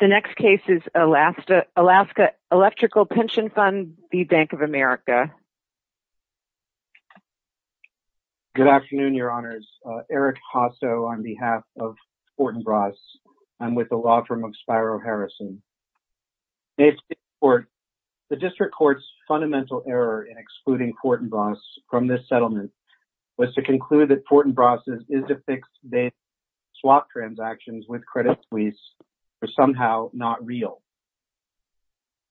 The next case is Alaska Electrical Pension Fund v. Bank of America. Good afternoon, Your Honors. Eric Hosso on behalf of Fortinbras. I'm with the law firm of Spiro Harrison. The District Court's fundamental error in excluding Fortinbras from this settlement was to conclude that Fortinbras' is-to-fix-based swap transactions with credit suites were somehow not real.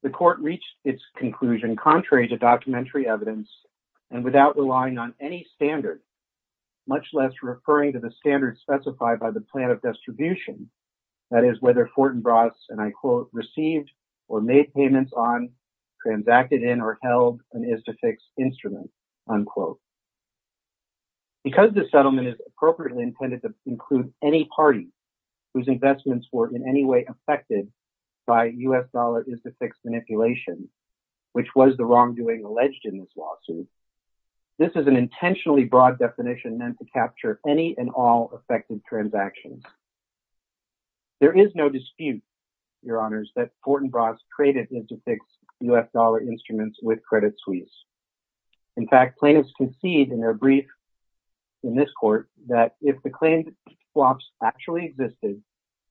The Court reached its conclusion contrary to documentary evidence and without relying on any standard, much less referring to the standards specified by the plan of distribution, that is, whether Fortinbras, and I quote, received or made payments on, transacted in, or held an is-to-fix instrument, unquote. Because this settlement is appropriately intended to include any party whose investments were in any way affected by U.S. dollar is-to-fix manipulation, which was the wrongdoing alleged in this lawsuit, this is an intentionally broad definition meant to capture any and all affected transactions. There is no dispute, Your Honors, that Fortinbras traded is-to-fix U.S. dollar instruments with credit suites. In fact, plaintiffs conceded in their brief in this court that if the claimed swaps actually existed,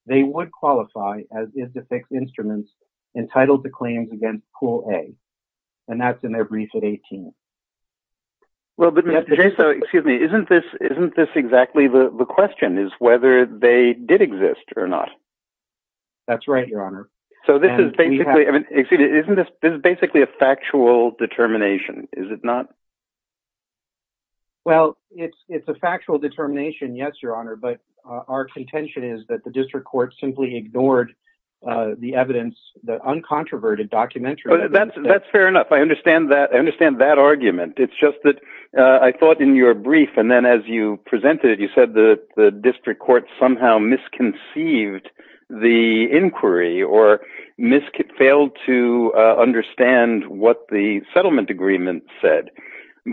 they would qualify as is-to-fix instruments entitled to claims against Pool A, and that's in their brief at 18. Well, but Mr. Jaso, excuse me, isn't this exactly the question, is whether they did exist or not? That's right, Your Honor. So this is basically a factual determination, is it not? Well, it's a factual determination, yes, Your Honor, but our contention is that the District Court simply ignored the evidence, the uncontroverted documentary evidence. That's fair enough. I understand that argument. It's just that I thought in your brief and then as you presented it, you said the District Court somehow misconceived the inquiry or failed to understand what the settlement agreement said.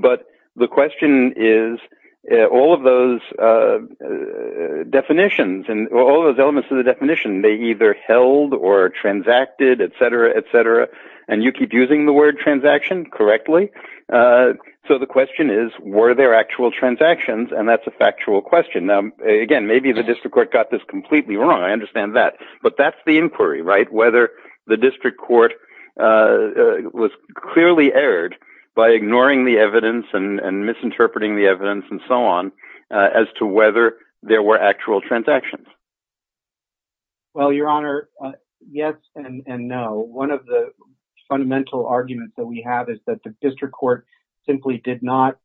But the question is, all of those definitions and all of those elements of the definition, they either held or transacted, etc., etc., and you keep using the word transaction correctly. So the question is, were there actual transactions, and that's a factual question. Now, again, maybe the District Court got this completely wrong, I understand that, but that's the inquiry, right, whether the District Court was clearly erred by ignoring the evidence and misinterpreting the evidence and so on as to whether there were actual transactions. Well, Your Honor, yes and no. One of the fundamental arguments that we have is that the District Court simply did not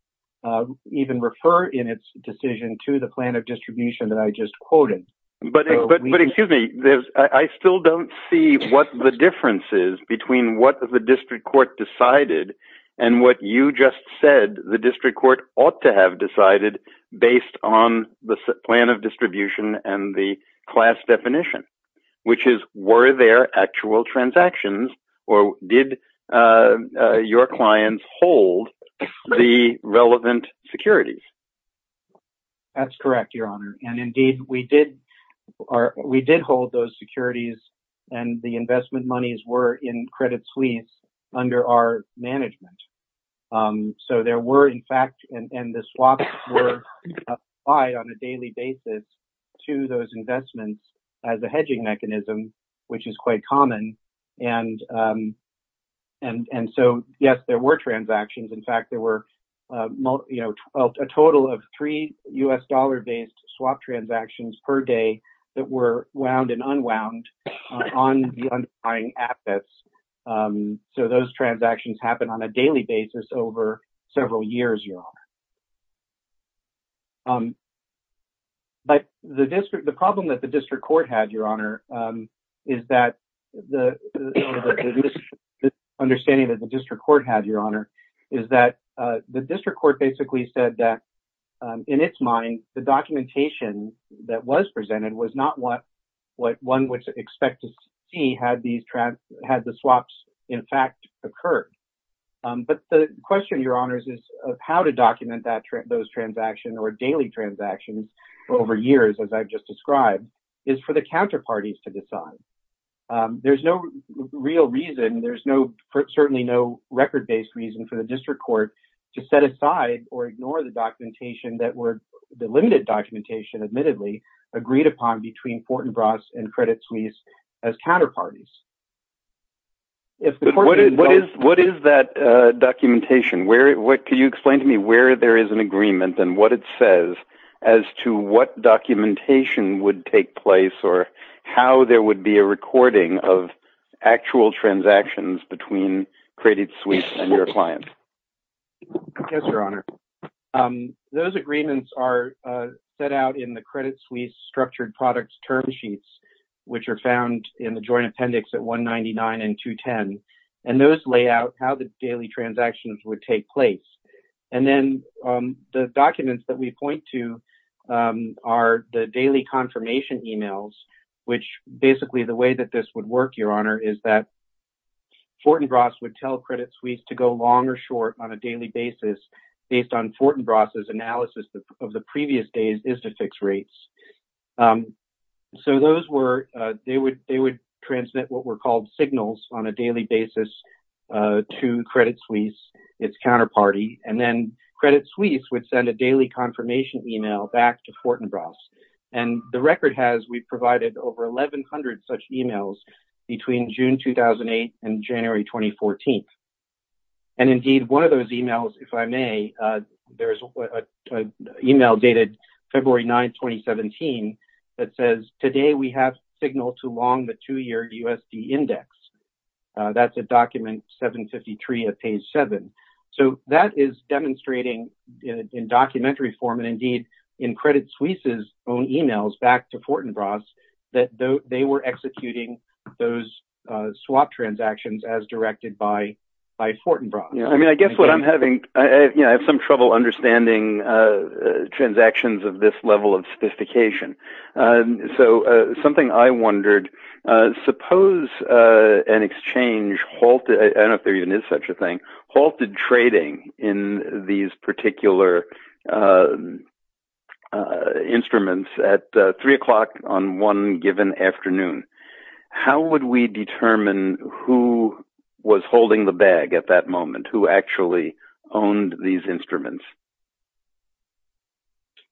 even refer in its decision to the plan of distribution that I just quoted. But excuse me, I still don't see what the difference is between what the District Court decided and what you just said the District Court ought to have decided based on the plan of distribution and the class definition, which is, were there actual transactions or did your clients hold the relevant securities? That's correct, Your Honor, and indeed we did hold those securities and the investment monies were in credit suites under our management. So there were, in fact, and the swaps were applied on a daily basis to those investments as a hedging mechanism, which is quite common. And so, yes, there were transactions. In fact, there were a total of three U.S. dollar-based swap transactions per day that were wound and unwound on the underlying assets. So those transactions happened on a daily basis over several years, Your Honor. But the problem that the District Court had, Your Honor, is that the understanding that the District Court had, Your Honor, is that the District Court basically said that in its mind, the documentation that was presented was not what one would expect to see had the swaps, in fact, occurred. But the question, Your Honors, is of how to document those transactions or daily transactions over years, as I've just described, is for the counterparties to decide. There's no real reason, there's certainly no record-based reason for the District Court to set aside or ignore the documentation that were, the limited documentation, admittedly, agreed upon between Fortinbras and Credit Suisse as counterparties. What is that documentation? Can you explain to me where there is an agreement and what it says as to what documentation would take place or how there would be a recording of actual transactions between Credit Suisse and your client? Yes, Your Honor. Those agreements are set out in the Credit Suisse Structured Products Term Sheets, which are found in the Joint Appendix at 199 and 210, and those lay out how the daily transactions would take place. And then the documents that we point to are the daily confirmation emails, which basically the way that this would work, Your Honor, is that Fortinbras would tell Credit Suisse to go long or short on a daily basis based on Fortinbras' analysis of the previous days is to fix rates. So those were, they would transmit what were called signals on a daily basis to Credit Suisse, its counterparty, and then Credit Suisse would send a daily confirmation email back to Fortinbras. And the record has, we provided over 1,100 such emails between June 2008 and January 2014. And indeed, one of those emails, if I may, there is an email dated February 9, 2017, that says, today we have signaled to long the two-year USD index. That's a document 753 of page 7. So that is demonstrating in documentary form and indeed in Credit Suisse's own emails back to Fortinbras that they were executing those swap transactions as directed by Fortinbras. I guess what I'm having, I have some trouble understanding transactions of this level of sophistication.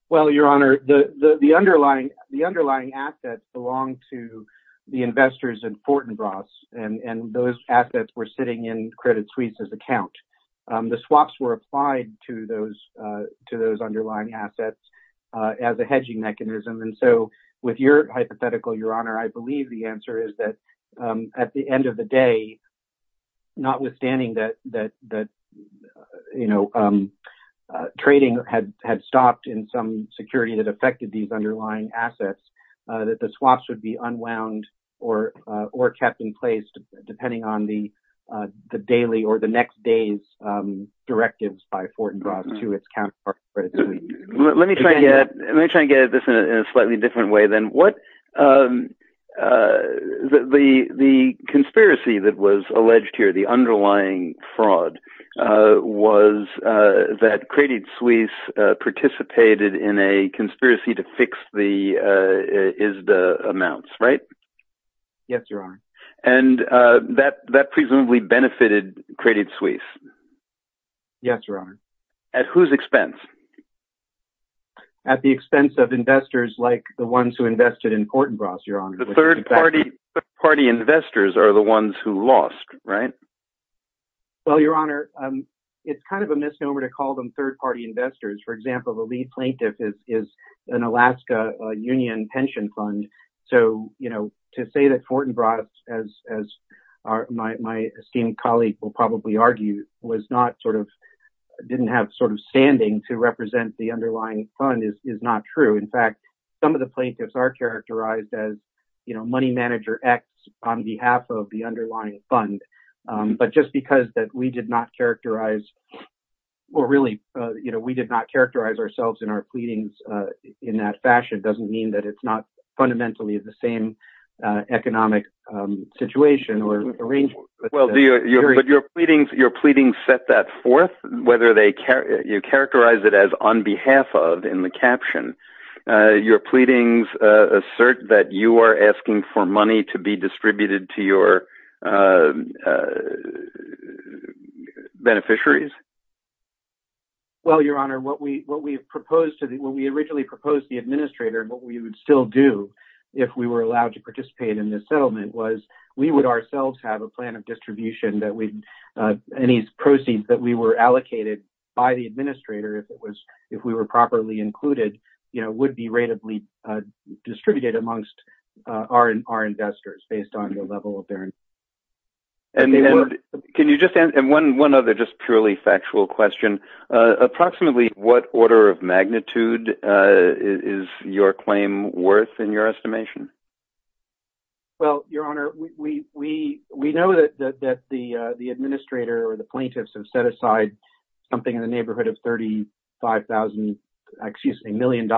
Well, Your Honor, the underlying assets belong to the investors in Fortinbras, and those assets were sitting in Credit Suisse's account. The swaps were applied to those underlying assets as a hedging mechanism. And so with your hypothetical, Your Honor, I believe the answer is that at the end of the day, notwithstanding that trading had stopped in some security that affected these underlying assets, that the swaps would be unwound or kept in place depending on the daily or the next day's directives by Fortinbras to its counterpart Credit Suisse. Let me try and get at this in a slightly different way then. The conspiracy that was alleged here, the underlying fraud, was that Credit Suisse participated in a conspiracy to fix the ISDA amounts, right? Yes, Your Honor. And that presumably benefited Credit Suisse? Yes, Your Honor. At whose expense? At the expense of investors like the ones who invested in Fortinbras, Your Honor. The third-party investors are the ones who lost, right? Well, Your Honor, it's kind of a misnomer to call them third-party investors. For example, the lead plaintiff is an Alaska union pension fund. To say that Fortinbras, as my esteemed colleague will probably argue, didn't have standing to represent the underlying fund is not true. In fact, some of the plaintiffs are characterized as money manager X on behalf of the underlying fund. But just because we did not characterize ourselves in our pleadings in that fashion doesn't mean that it's not fundamentally the same economic situation. But your pleadings set that forth? You characterized it as on behalf of in the caption. Your pleadings assert that you are asking for money to be distributed to your beneficiaries? Well, Your Honor, when we originally proposed the administrator, what we would still do if we were allowed to participate in this settlement was we would ourselves have a plan of distribution. Any proceeds that we were allocated by the administrator if we were properly included would be rateably distributed amongst our investors based on the level of their investment. One other purely factual question. Approximately what order of magnitude is your claim worth in your estimation? Well, Your Honor, we know that the administrator or the plaintiffs have set aside something in the neighborhood of $35 million.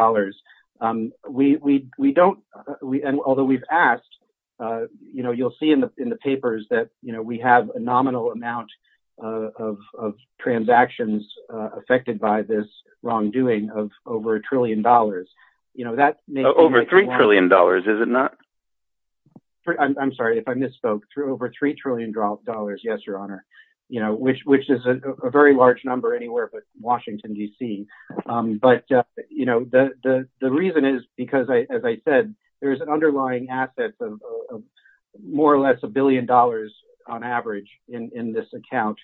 Although we've asked, you'll see in the papers that we have a nominal amount of transactions affected by this wrongdoing of over a trillion dollars. Over $3 trillion, is it not? I'm sorry if I misspoke. Over $3 trillion, yes, Your Honor, which is a very large number anywhere but Washington, D.C. But the reason is because, as I said, there's an underlying asset of more or less $1 billion on average in this account.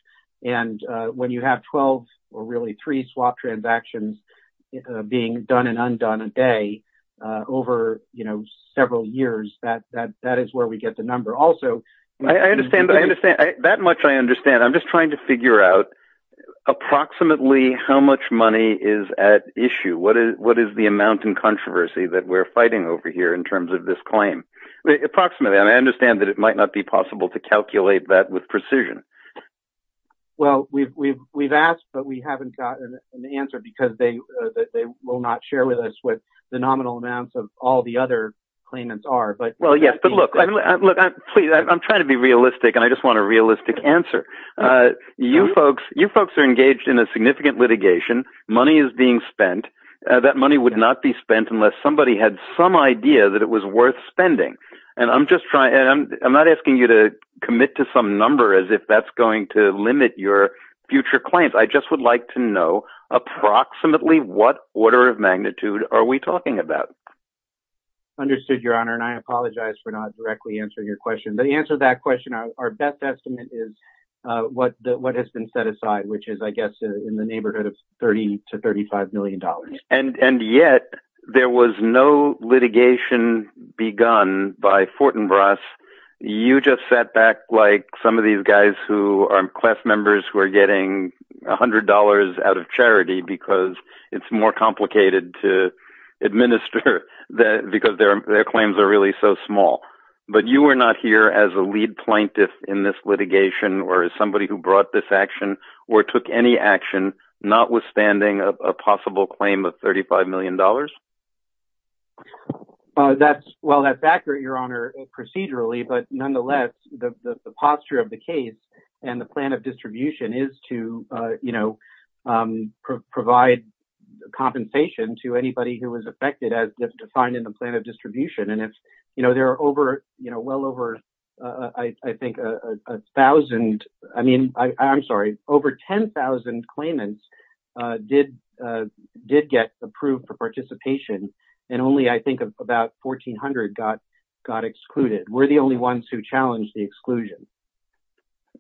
And when you have 12 or really 3 swap transactions being done and undone a day over several years, that is where we get the number. I understand. That much I understand. I'm just trying to figure out approximately how much money is at issue. What is the amount in controversy that we're fighting over here in terms of this claim? Approximately. I understand that it might not be possible to calculate that with precision. Well, we've asked, but we haven't gotten an answer because they will not share with us what the nominal amounts of all the other claimants are. Well, yes, but look, I'm trying to be realistic and I just want a realistic answer. You folks are engaged in a significant litigation. Money is being spent. That money would not be spent unless somebody had some idea that it was worth spending. And I'm not asking you to commit to some number as if that's going to limit your future claims. I just would like to know approximately what order of magnitude are we talking about? Understood, Your Honor, and I apologize for not directly answering your question. The answer to that question, our best estimate is what has been set aside, which is, I guess, in the neighborhood of $30 to $35 million. And yet there was no litigation begun by Fortinbras. You just sat back like some of these guys who are class members who are getting $100 out of charity because it's more complicated to administer because their claims are really so small. But you were not here as a lead plaintiff in this litigation or as somebody who brought this action or took any action, notwithstanding a possible claim of $35 million? Well, that's accurate, Your Honor, procedurally. But nonetheless, the posture of the case and the plan of distribution is to provide compensation to anybody who is affected as defined in the plan of distribution. And there are well over, I think, a thousand, I mean, I'm sorry, over 10,000 claimants did get approved for participation. And only, I think, about 1,400 got excluded. We're the only ones who challenged the exclusion.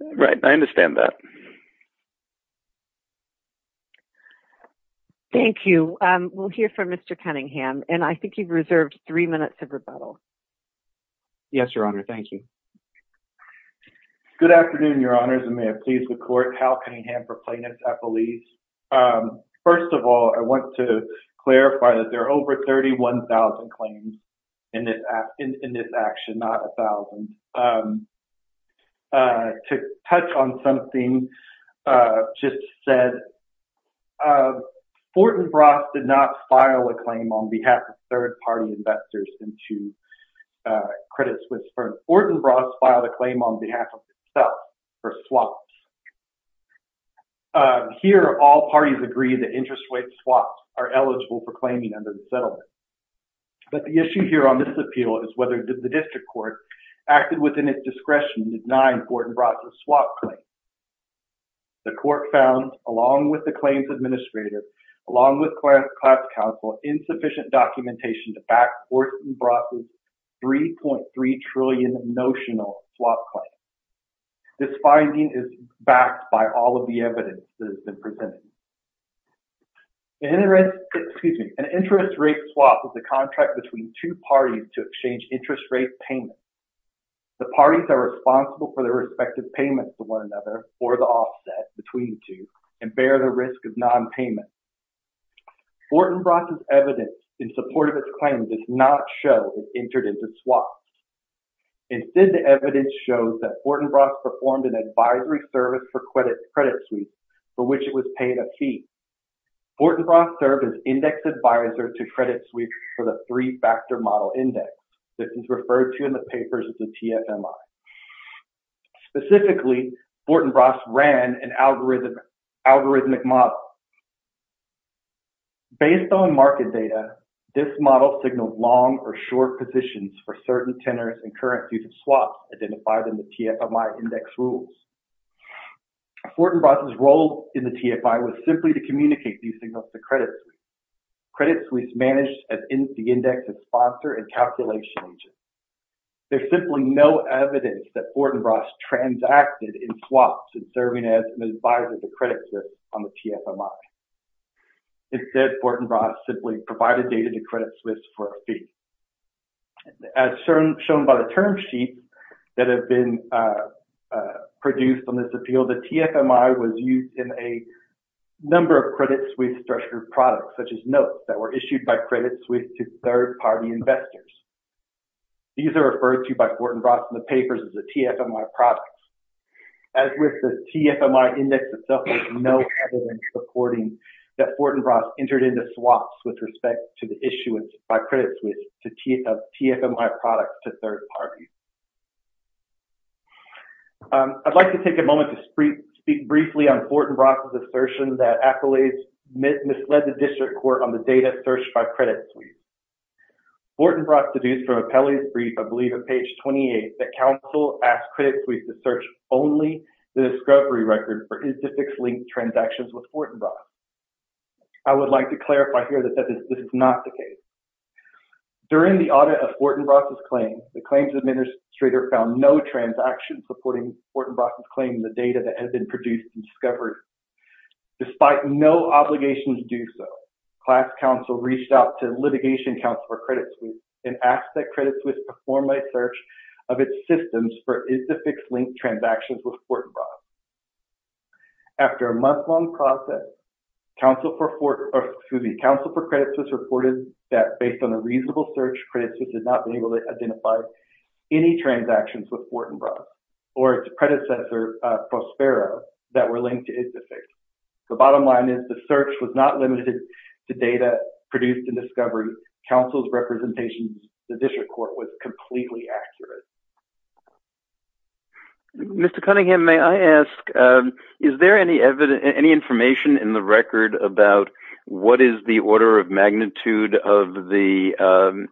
Right. I understand that. Thank you. We'll hear from Mr. Cunningham. And I think you've reserved three minutes of rebuttal. Yes, Your Honor. Thank you. Good afternoon, Your Honors, and may it please the Court. Hal Cunningham for Plaintiffs' Appeals. First of all, I want to clarify that there are over 31,000 claims in this action, not 1,000. To touch on something just said, Fortin-Bross did not file a claim on behalf of third-party investors into Credit Suisse Firms. Fortin-Bross filed a claim on behalf of itself for swaps. Here, all parties agree that interest rate swaps are eligible for claiming under the settlement. But the issue here on this appeal is whether the district court acted within its discretion in denying Fortin-Bross' swap claim. The court found, along with the claims administrators, along with class counsel, insufficient documentation to back Fortin-Bross' $3.3 trillion notional swap claim. This finding is backed by all of the evidence that has been presented. An interest rate swap is a contract between two parties to exchange interest rate payments. The parties are responsible for their respective payments to one another, or the offset between the two, and bear the risk of nonpayment. Fortin-Bross' evidence in support of its claim does not show it entered into swaps. Instead, the evidence shows that Fortin-Bross performed an advisory service for Credit Suisse, for which it was paid a fee. Fortin-Bross served as index advisor to Credit Suisse for the three-factor model index. This is referred to in the papers as the TFMI. Specifically, Fortin-Bross ran an algorithmic model. Based on market data, this model signals long or short positions for certain tenors and currencies of swaps identified in the TFMI index rules. Fortin-Bross' role in the TFI was simply to communicate these signals to Credit Suisse. Credit Suisse managed the index as sponsor and calculation agent. There's simply no evidence that Fortin-Bross transacted in swaps and serving as an advisor to Credit Suisse on the TFMI. Instead, Fortin-Bross simply provided data to Credit Suisse for a fee. As shown by the term sheets that have been produced on this appeal, the TFMI was used in a number of Credit Suisse structured products, such as notes that were issued by Credit Suisse to third-party investors. These are referred to by Fortin-Bross in the papers as the TFMI products. As with the TFMI index itself, there's no evidence supporting that Fortin-Bross entered into swaps with respect to the issuance by Credit Suisse of TFMI products to third parties. I'd like to take a moment to speak briefly on Fortin-Bross' assertion that accolades misled the district court on the data searched by Credit Suisse. Fortin-Bross deduced from a Pelley's brief, I believe on page 28, that counsel asked Credit Suisse to search only the discovery record for index-linked transactions with Fortin-Bross. I would like to clarify here that this is not the case. During the audit of Fortin-Bross' claim, the claims administrator found no transaction supporting Fortin-Bross' claim in the data that has been produced in discovery. Despite no obligation to do so, class counsel reached out to litigation counsel for Credit Suisse and asked that Credit Suisse perform a search of its systems for index-linked transactions with Fortin-Bross. After a month-long process, counsel for Credit Suisse reported that, based on a reasonable search, Credit Suisse did not be able to identify any transactions with Fortin-Bross or its predecessor, Prospero, that were linked to IGFIX. The bottom line is the search was not limited to data produced in discovery. Counsel's representation to the district court was completely accurate. Mr. Cunningham, may I ask, is there any information in the record about what is the order of magnitude of the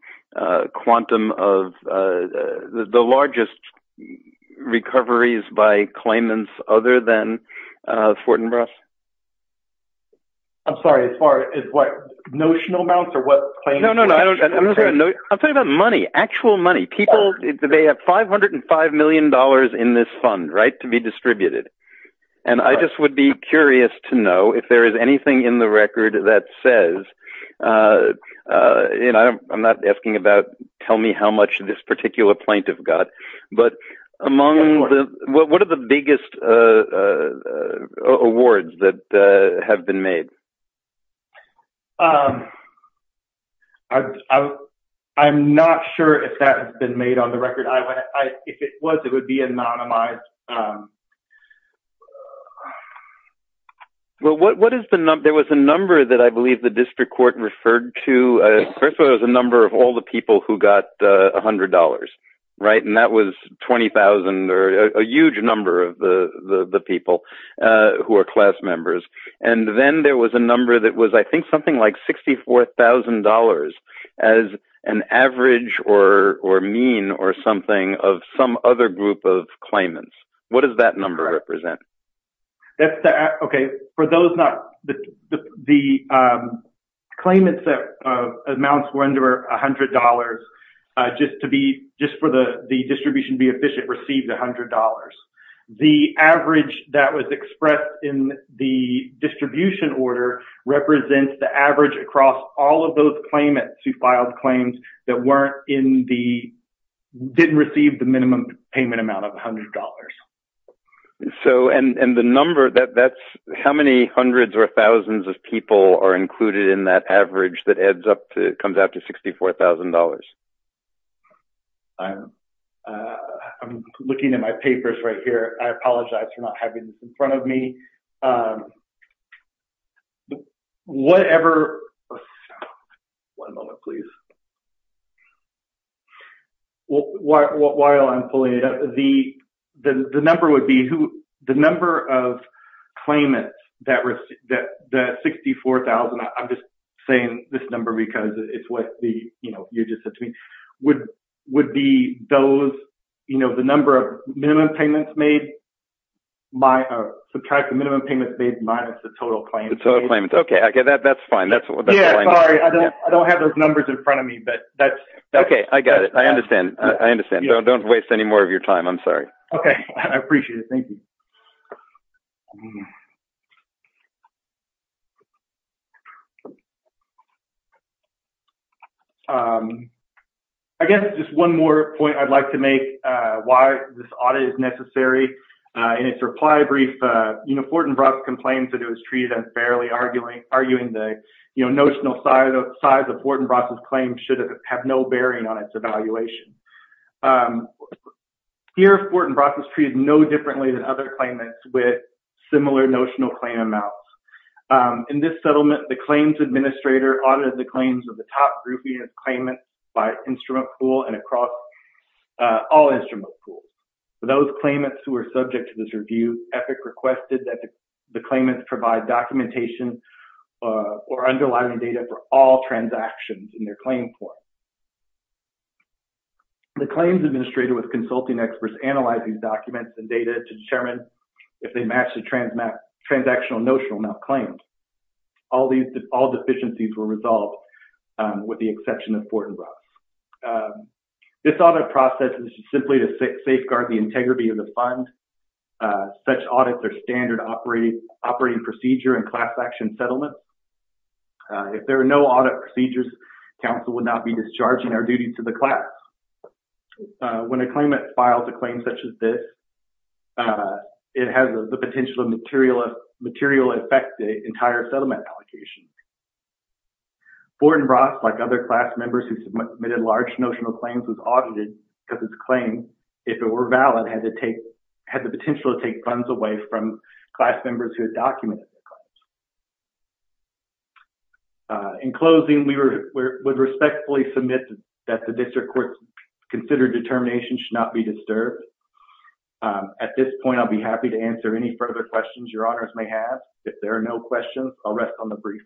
quantum of the largest recoveries by claimants other than Fortin-Bross? I'm sorry, as far as what? Notional amounts or what claims? No, no, no. I'm talking about money, actual money. People, they have $505 million in this fund, right, to be distributed. And I just would be curious to know if there is anything in the record that says, you know, I'm not asking about tell me how much this particular plaintiff got, but among the, what are the biggest awards that have been made? I'm not sure if that has been made on the record. If it was, it would be anonymized. Well, what is the number? There was a number that I believe the district court referred to. First of all, there was a number of all the people who got $100, right? And that was 20,000 or a huge number of the people who are class members. And then there was a number that was, I think, something like $64,000 as an average or mean or something of some other group of claimants. What does that number represent? Okay. For those not, the claimants amounts were under $100 just to be, just for the distribution to be efficient, received $100. The average that was expressed in the distribution order represents the average across all of those claimants who filed claims that weren't in the, didn't receive the minimum payment amount of $100. So, and the number that that's, how many hundreds or thousands of people are included in that average that adds up to, comes out to $64,000? I'm looking at my papers right here. I apologize for not having this in front of me. Whatever. One moment, please. Well, while I'm pulling it up, the number would be who, the number of claimants that received, that $64,000, I'm just saying this number because it's what you just said to me, would be those, the number of minimum payments made, subtract the minimum payments made minus the total claim. Okay. That's fine. I don't have those numbers in front of me, but that's. Okay. I got it. I understand. I understand. Don't waste any more of your time. I'm sorry. Okay. I appreciate it. Thank you. I guess just one more point I'd like to make why this audit is necessary. In its reply brief, Fortinbras complained that it was treated unfairly, arguing the notional size of Fortinbras' claims should have no bearing on its evaluation. Here, Fortinbras was treated no differently than other claimants with similar notional claim amounts. In this settlement, the claims administrator audited the claims of the top group units' claimants by instrument pool and across all instrument pools. For those claimants who were subject to this review, EPIC requested that the claimants provide documentation or underlying data for all transactions in their claim form. The claims administrator with consulting experts analyzed these documents and data to determine if they matched the transactional notional amount claimed. All deficiencies were resolved with the exception of Fortinbras. This audit process is simply to safeguard the integrity of the fund. Such audits are standard operating procedure in class action settlements. If there are no audit procedures, council would not be discharging our duty to the class. When a claimant files a claim such as this, it has the potential to materially affect the entire settlement allocation. Fortinbras, like other class members who submitted large notional claims, was audited because its claim, if it were valid, had the potential to take funds away from class members who had documented the claims. In closing, we would respectfully submit that the district court's considered determination should not be disturbed. At this point, I'll be happy to answer any further questions your honors may have. If there are no questions, I'll rest on the brief.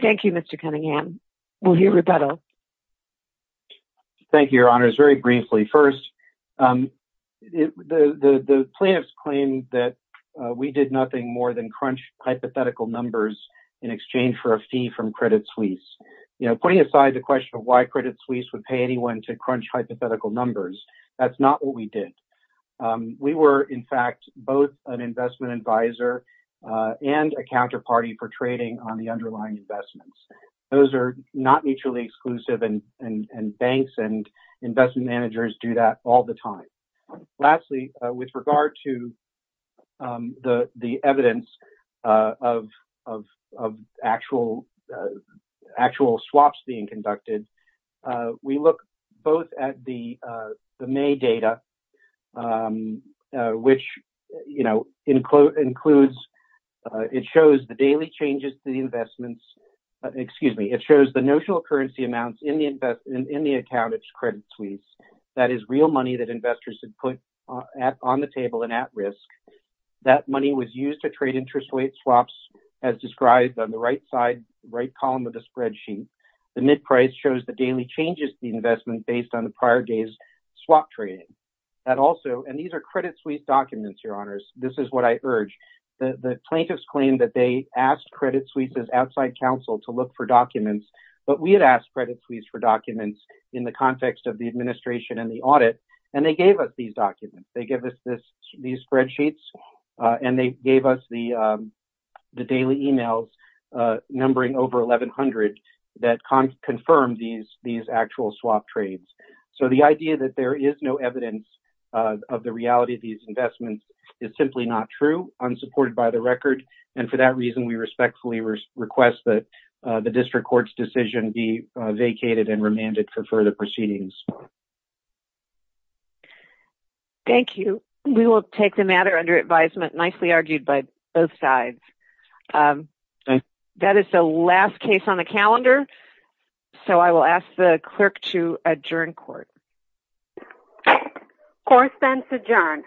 Thank you, Mr. Cunningham. We'll hear rebuttal. Thank you, your honors. Very briefly. First, the plaintiffs claimed that we did nothing more than crunch hypothetical numbers in exchange for a fee from Credit Suisse. Putting aside the question of why Credit Suisse would pay anyone to crunch hypothetical numbers, that's not what we did. We were, in fact, both an investment advisor and a counterparty for trading on the underlying investments. Those are not mutually exclusive and banks and investment managers do that all the time. Lastly, with regard to the evidence of actual swaps being conducted, we look both at the May data, which includes, it shows the daily changes to the investments. It shows the notional currency amounts in the account of Credit Suisse. That is real money that investors had put on the table and at risk. That money was used to trade interest rate swaps as described on the right side, right column of the spreadsheet. The mid price shows the daily changes to the investment based on the prior day's swap trading. These are Credit Suisse documents, your honors. This is what I urge. The plaintiffs claimed that they asked Credit Suisse's outside counsel to look for documents, but we had asked Credit Suisse for documents in the context of the administration and the audit. They gave us these documents. They gave us these spreadsheets and they gave us the daily emails numbering over 1,100 that confirmed these actual swap trades. The idea that there is no evidence of the reality of these investments is simply not true, unsupported by the record. For that reason, we respectfully request that the district court's decision be vacated and remanded for further proceedings. Thank you. We will take the matter under advisement, nicely argued by both sides. That is the last case on the calendar, so I will ask the clerk to adjourn court. Court is adjourned.